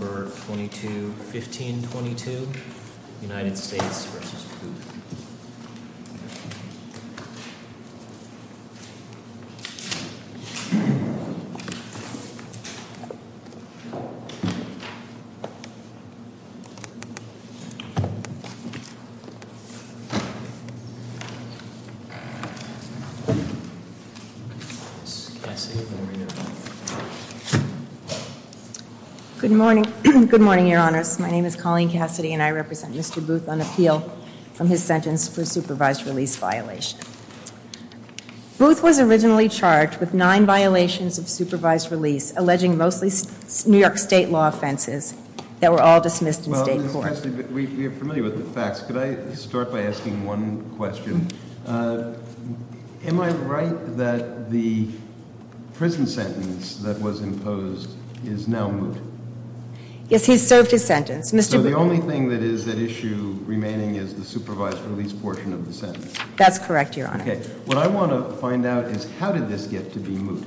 November 22, 1522, United States v. Booth. Good morning. Good morning, Your Honors. My name is Colleen Cassidy and I represent Mr. Booth on appeal. From his sentence for supervised release violation. Booth was originally charged with nine violations of supervised release, alleging mostly New York state law offenses that were all dismissed in state court. We're familiar with the facts. Could I start by asking one question? Am I right that the prison sentence that was imposed is now moot? Yes, he's served his sentence. So the only thing that is at issue remaining is the supervised release portion of the sentence? That's correct, Your Honor. Okay. What I want to find out is how did this get to be moot?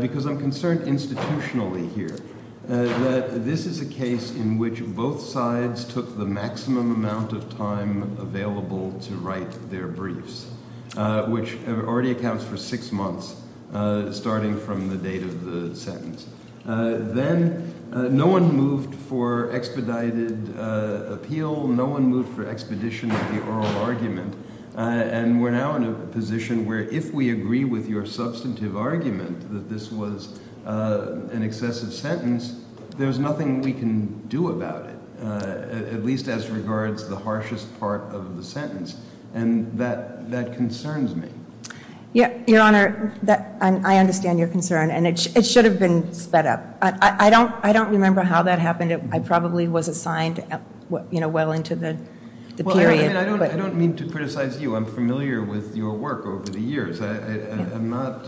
Because I'm concerned institutionally here that this is a case in which both sides took the maximum amount of time available to write their briefs, which already accounts for six months, starting from the date of the sentence. Then no one moved for expedited appeal. No one moved for expedition of the oral argument. And we're now in a position where if we agree with your substantive argument that this was an excessive sentence, there's nothing we can do about it, at least as regards the harshest part of the sentence. And that that concerns me. Your Honor, I understand your concern. And it should have been sped up. I don't remember how that happened. I probably was assigned well into the period. I don't mean to criticize you. I'm familiar with your work over the years. I'm not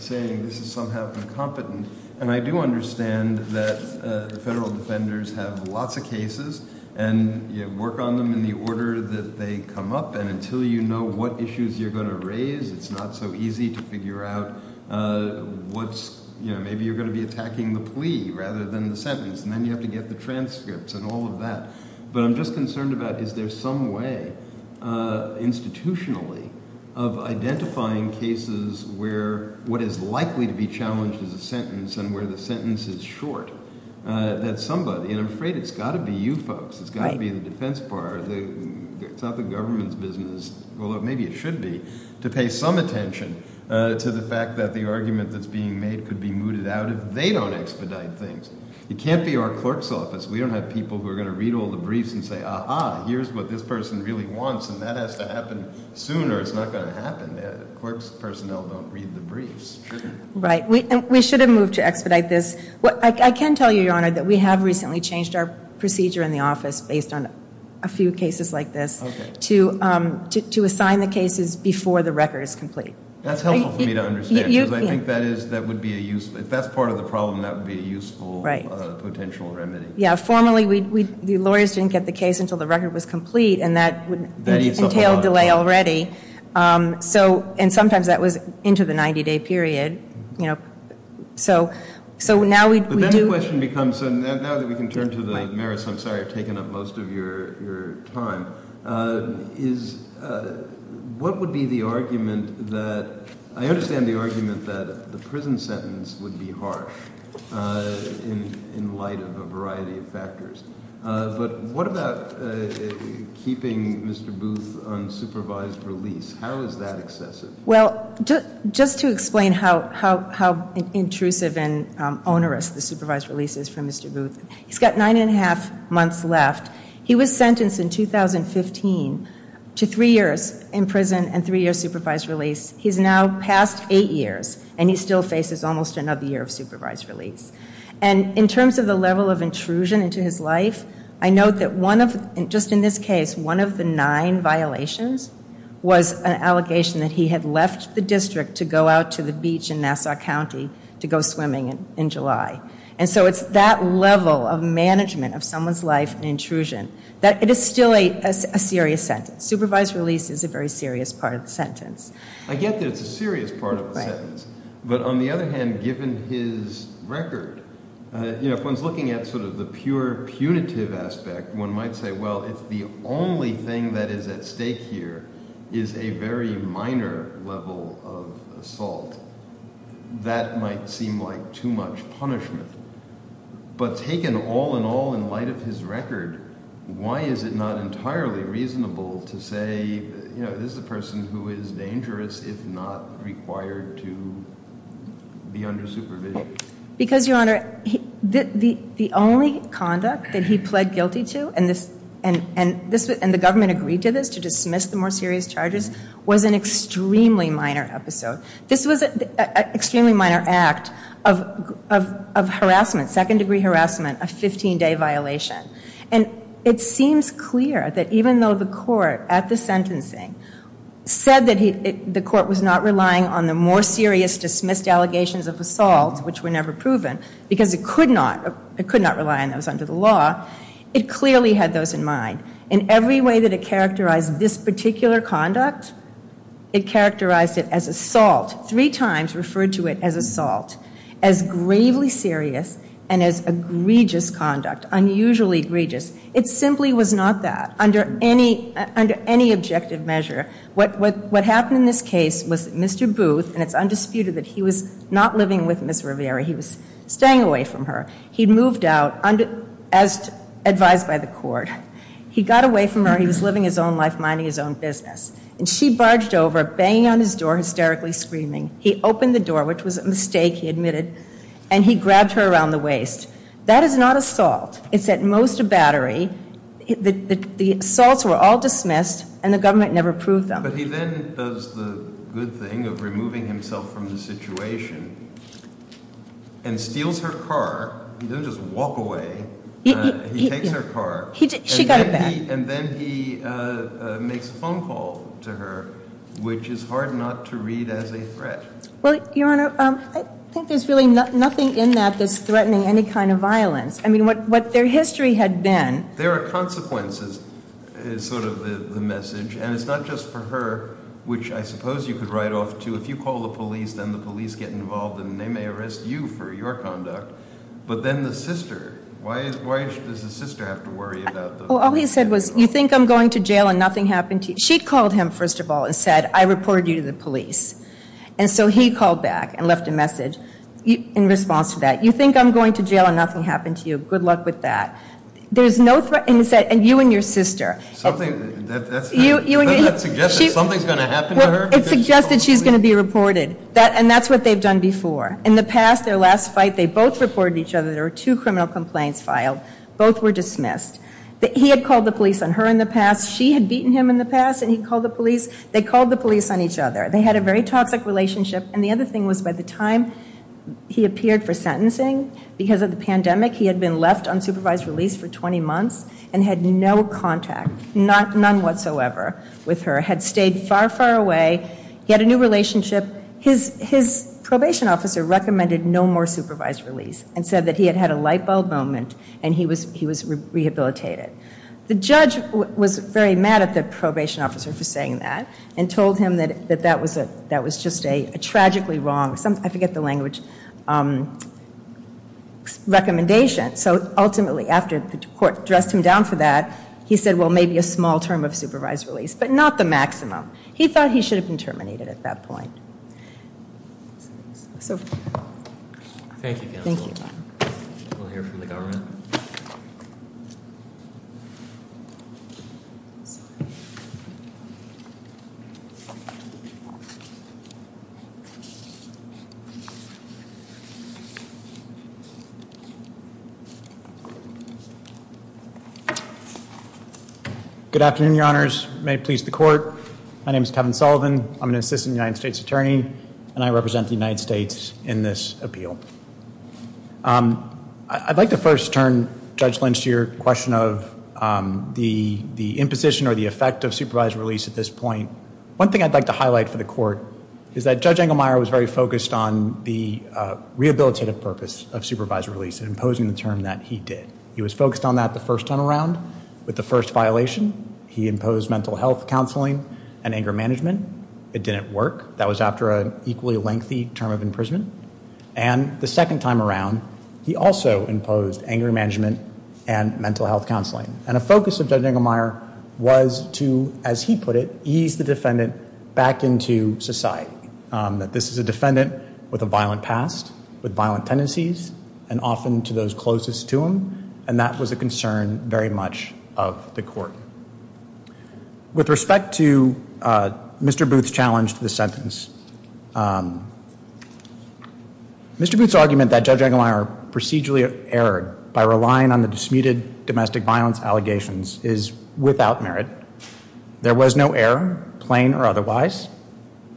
saying this is somehow incompetent. And I do understand that the federal defenders have lots of cases and work on them in the order that they come up. And until you know what issues you're going to raise, it's not so easy to figure out what's – maybe you're going to be attacking the plea rather than the sentence. And then you have to get the transcripts and all of that. But I'm just concerned about is there some way institutionally of identifying cases where what is likely to be challenged is a sentence and where the sentence is short that somebody – and I'm afraid it's got to be you folks. It's got to be the defense bar. It's not the government's business, although maybe it should be, to pay some attention to the fact that the argument that's being made could be mooted out if they don't expedite things. We don't have people who are going to read all the briefs and say, ah-ha, here's what this person really wants, and that has to happen soon or it's not going to happen. Quirk's personnel don't read the briefs. Right. We should have moved to expedite this. I can tell you, Your Honor, that we have recently changed our procedure in the office based on a few cases like this to assign the cases before the record is complete. That's helpful for me to understand because I think that is – that would be a useful – if that's part of the problem, that would be a useful potential remedy. Yeah, formerly we – the lawyers didn't get the case until the record was complete, and that would entail delay already. So – and sometimes that was into the 90-day period. So now we do – But then the question becomes – so now that we can turn to the merits – I'm sorry I've taken up most of your time – is what would be the argument that – But what about keeping Mr. Booth on supervised release? How is that excessive? Well, just to explain how intrusive and onerous the supervised release is for Mr. Booth, he's got nine and a half months left. He was sentenced in 2015 to three years in prison and three years supervised release. He's now passed eight years, and he still faces almost another year of supervised release. And in terms of the level of intrusion into his life, I note that one of – just in this case, one of the nine violations was an allegation that he had left the district to go out to the beach in Nassau County to go swimming in July. And so it's that level of management of someone's life and intrusion that – it is still a serious sentence. Supervised release is a very serious part of the sentence. I get that it's a serious part of the sentence. But on the other hand, given his record, if one's looking at sort of the pure punitive aspect, one might say, well, if the only thing that is at stake here is a very minor level of assault, that might seem like too much punishment. But taken all in all in light of his record, why is it not entirely reasonable to say, you know, this is a person who is dangerous if not required to be under supervision? Because, Your Honor, the only conduct that he pled guilty to, and the government agreed to this to dismiss the more serious charges, was an extremely minor episode. This was an extremely minor act of harassment, second-degree harassment, a 15-day violation. And it seems clear that even though the court at the sentencing said that the court was not relying on the more serious dismissed allegations of assault, which were never proven, because it could not rely on those under the law, it clearly had those in mind. In every way that it characterized this particular conduct, it characterized it as assault, three times referred to it as assault, as gravely serious, and as egregious conduct, unusually egregious. It simply was not that under any objective measure. What happened in this case was Mr. Booth, and it's undisputed that he was not living with Ms. Rivera. He was staying away from her. He moved out, as advised by the court. He got away from her. He was living his own life, minding his own business. And she barged over, banging on his door, hysterically screaming. He opened the door, which was a mistake, he admitted, and he grabbed her around the waist. That is not assault. It's at most a battery. The assaults were all dismissed, and the government never proved them. But he then does the good thing of removing himself from the situation and steals her car. He doesn't just walk away. He takes her car. She got it back. And then he makes a phone call to her, which is hard not to read as a threat. Well, Your Honor, I think there's really nothing in that that's threatening any kind of violence. I mean, what their history had been. There are consequences, is sort of the message. And it's not just for her, which I suppose you could write off too. If you call the police, then the police get involved, and they may arrest you for your conduct. But then the sister, why does the sister have to worry about those things? Well, all he said was, you think I'm going to jail and nothing happened to you? She called him, first of all, and said, I reported you to the police. And so he called back and left a message in response to that. You think I'm going to jail and nothing happened to you? Good luck with that. There's no threat, and he said, and you and your sister. That's not suggesting something's going to happen to her? It suggests that she's going to be reported. And that's what they've done before. In the past, their last fight, they both reported each other. There were two criminal complaints filed. Both were dismissed. He had called the police on her in the past. She had beaten him in the past, and he called the police. They called the police on each other. They had a very toxic relationship. And the other thing was, by the time he appeared for sentencing, because of the pandemic, he had been left unsupervised release for 20 months and had no contact, none whatsoever, with her. Had stayed far, far away. He had a new relationship. His probation officer recommended no more supervised release and said that he had had a light bulb moment and he was rehabilitated. The judge was very mad at the probation officer for saying that and told him that that was just a tragically wrong, I forget the language, recommendation. So ultimately, after the court dressed him down for that, he said, well, maybe a small term of supervised release, but not the maximum. He thought he should have been terminated at that point. So. Thank you. We'll hear from the government. Good afternoon, Your Honors. May it please the court. My name is Kevin Sullivan. I'm an assistant United States attorney, and I represent the United States in this appeal. I'd like to first turn, Judge Lynch, to your question of the imposition or the effect of supervised release at this point. One thing I'd like to highlight for the court is that Judge Engelmeyer was very focused on the rehabilitative purpose of supervised release, imposing the term that he did. He was focused on that the first time around with the first violation. He imposed mental health counseling and anger management. It didn't work. That was after an equally lengthy term of imprisonment. And the second time around, he also imposed anger management and mental health counseling. And a focus of Judge Engelmeyer was to, as he put it, ease the defendant back into society, that this is a defendant with a violent past, with violent tendencies, and often to those closest to him, and that was a concern very much of the court. With respect to Mr. Booth's challenge to this sentence, Mr. Booth's argument that Judge Engelmeyer procedurally erred by relying on the disputed domestic violence allegations is without merit. There was no error, plain or otherwise.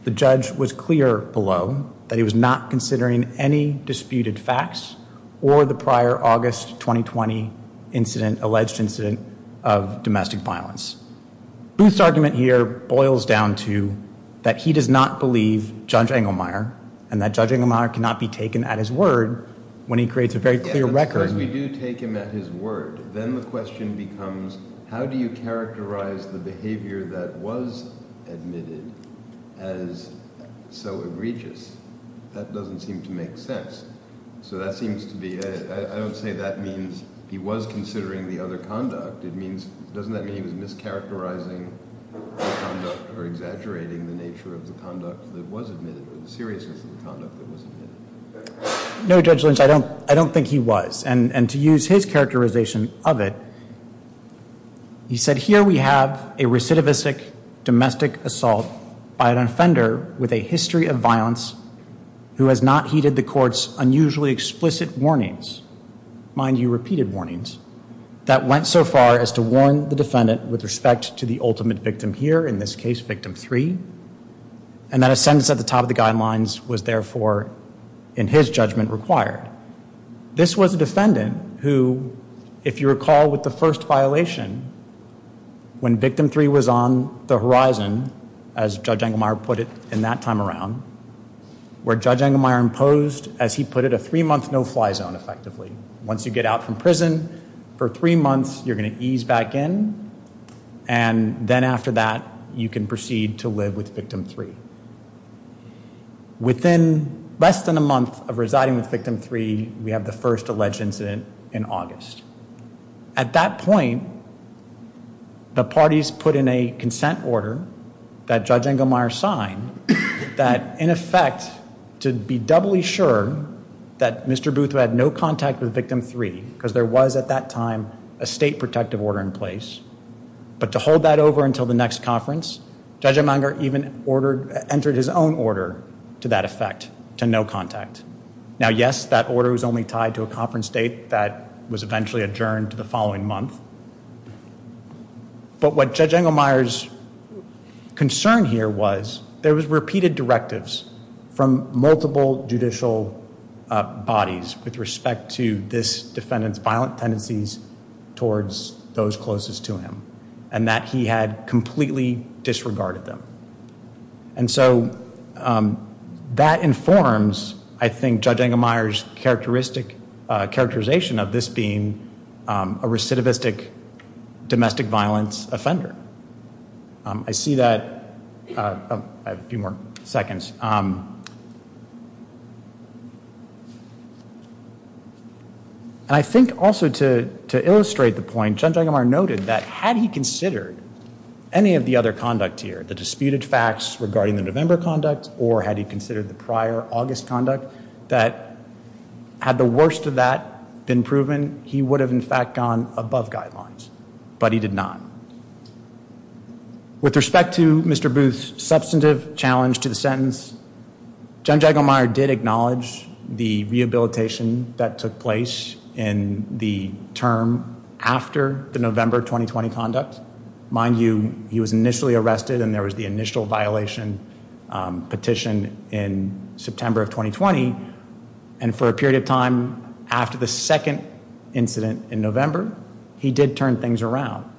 The judge was clear below that he was not considering any disputed facts or the prior August 2020 alleged incident of domestic violence. Booth's argument here boils down to that he does not believe Judge Engelmeyer and that Judge Engelmeyer cannot be taken at his word when he creates a very clear record. Because we do take him at his word. Then the question becomes, how do you characterize the behavior that was admitted as so egregious? That doesn't seem to make sense. So that seems to be, I don't say that means he was considering the other conduct. It means, doesn't that mean he was mischaracterizing the conduct or exaggerating the nature of the conduct that was admitted or the seriousness of the conduct that was admitted? No, Judge Lynch, I don't think he was. And to use his characterization of it, he said, here we have a recidivistic domestic assault by an offender with a history of violence who has not heeded the court's unusually explicit warnings, mind you, repeated warnings, that went so far as to warn the defendant with respect to the ultimate victim here, in this case, victim three. And that a sentence at the top of the guidelines was therefore, in his judgment, required. This was a defendant who, if you recall with the first violation, when victim three was on the horizon, as Judge Engelmeyer put it in that time around, where Judge Engelmeyer imposed, as he put it, a three-month no-fly zone, effectively. Once you get out from prison for three months, you're going to ease back in, and then after that, you can proceed to live with victim three. Within less than a month of residing with victim three, we have the first alleged incident in August. At that point, the parties put in a consent order that Judge Engelmeyer signed, that in effect, to be doubly sure that Mr. Booth, who had no contact with victim three, because there was, at that time, a state protective order in place. But to hold that over until the next conference, Judge Engelmeyer even ordered, entered his own order to that effect, to no contact. Now, yes, that order was only tied to a conference date that was eventually adjourned the following month. But what Judge Engelmeyer's concern here was, there was repeated directives from multiple judicial bodies with respect to this defendant's violent tendencies towards those closest to him, and that he had completely disregarded them. And so that informs, I think, Judge Engelmeyer's characterization of this being a recidivistic domestic violence offender. I see that. I have a few more seconds. And I think also to illustrate the point, Judge Engelmeyer noted that had he considered any of the other conduct here, the disputed facts regarding the November conduct, or had he considered the prior August conduct, that had the worst of that been proven, he would have, in fact, gone above guidelines. But he did not. With respect to Mr. Booth's substantive challenge to the sentence, Judge Engelmeyer did acknowledge the rehabilitation that took place in the term after the November 2020 conduct. Mind you, he was initially arrested and there was the initial violation petition in September of 2020. And for a period of time after the second incident in November, he did turn things around.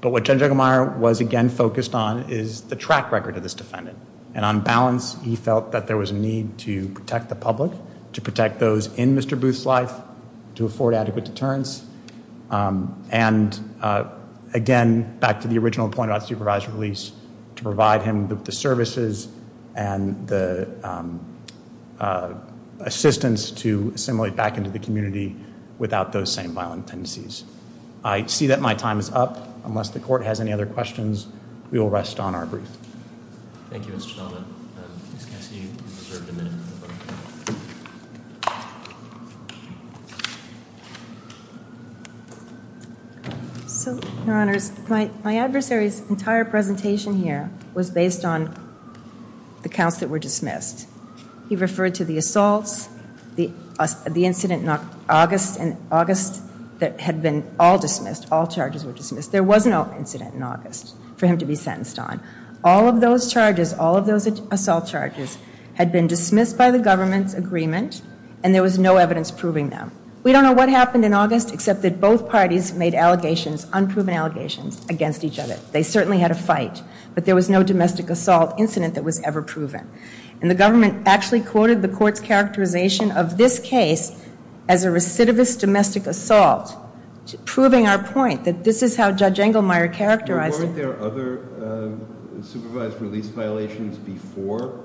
But what Judge Engelmeyer was again focused on is the track record of this defendant. And on balance, he felt that there was a need to protect the public, to protect those in Mr. Booth's life, to afford adequate deterrence. And again, back to the original point about supervised release, to provide him with the services and the assistance to assimilate back into the community without those same violent tendencies. I see that my time is up. Unless the court has any other questions, we will rest on our brief. Thank you, Mr. Donovan. Ms. Cassie, you deserve a minute. So, Your Honors, my adversary's entire presentation here was based on the counts that were dismissed. He referred to the assaults, the incident in August that had been all dismissed, all charges were dismissed. There was no incident in August for him to be sentenced on. All of those charges, all of those assault charges had been dismissed by the government's agreement and there was no evidence proving them. We don't know what happened in August except that both parties made allegations, unproven allegations against each other. They certainly had a fight, but there was no domestic assault incident that was ever proven. And the government actually quoted the court's characterization of this case as a recidivist domestic assault, proving our point that this is how Judge Engelmeyer characterized it. Weren't there other supervised release violations before?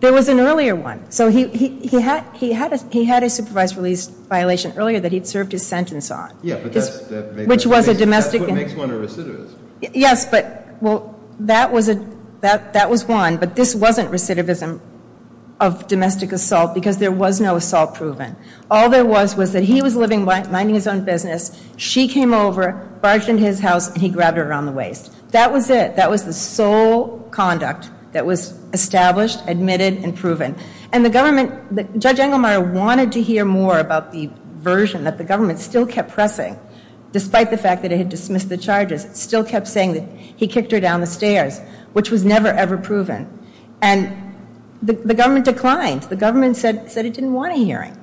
There was an earlier one. So he had a supervised release violation earlier that he'd served his sentence on. Yeah, but that's what makes one a recidivist. Yes, but, well, that was one, but this wasn't recidivism of domestic assault because there was no assault proven. All there was was that he was minding his own business, she came over, barged into his house, and he grabbed her around the waist. That was it. That was the sole conduct that was established, admitted, and proven. And the government, Judge Engelmeyer wanted to hear more about the version that the government still kept pressing, despite the fact that it had dismissed the charges, still kept saying that he kicked her down the stairs, which was never, ever proven. And the government declined. The government said it didn't want a hearing.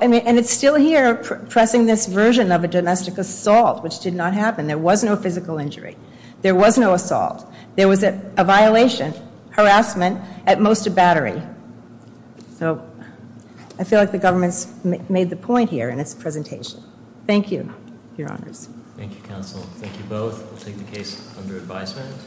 And it's still here, pressing this version of a domestic assault, which did not happen. There was no physical injury. There was no assault. There was a violation, harassment, at most a battery. So I feel like the government's made the point here in its presentation. Thank you, Your Honors. Thank you, Counsel. Thank you both. We'll take the case under advisement.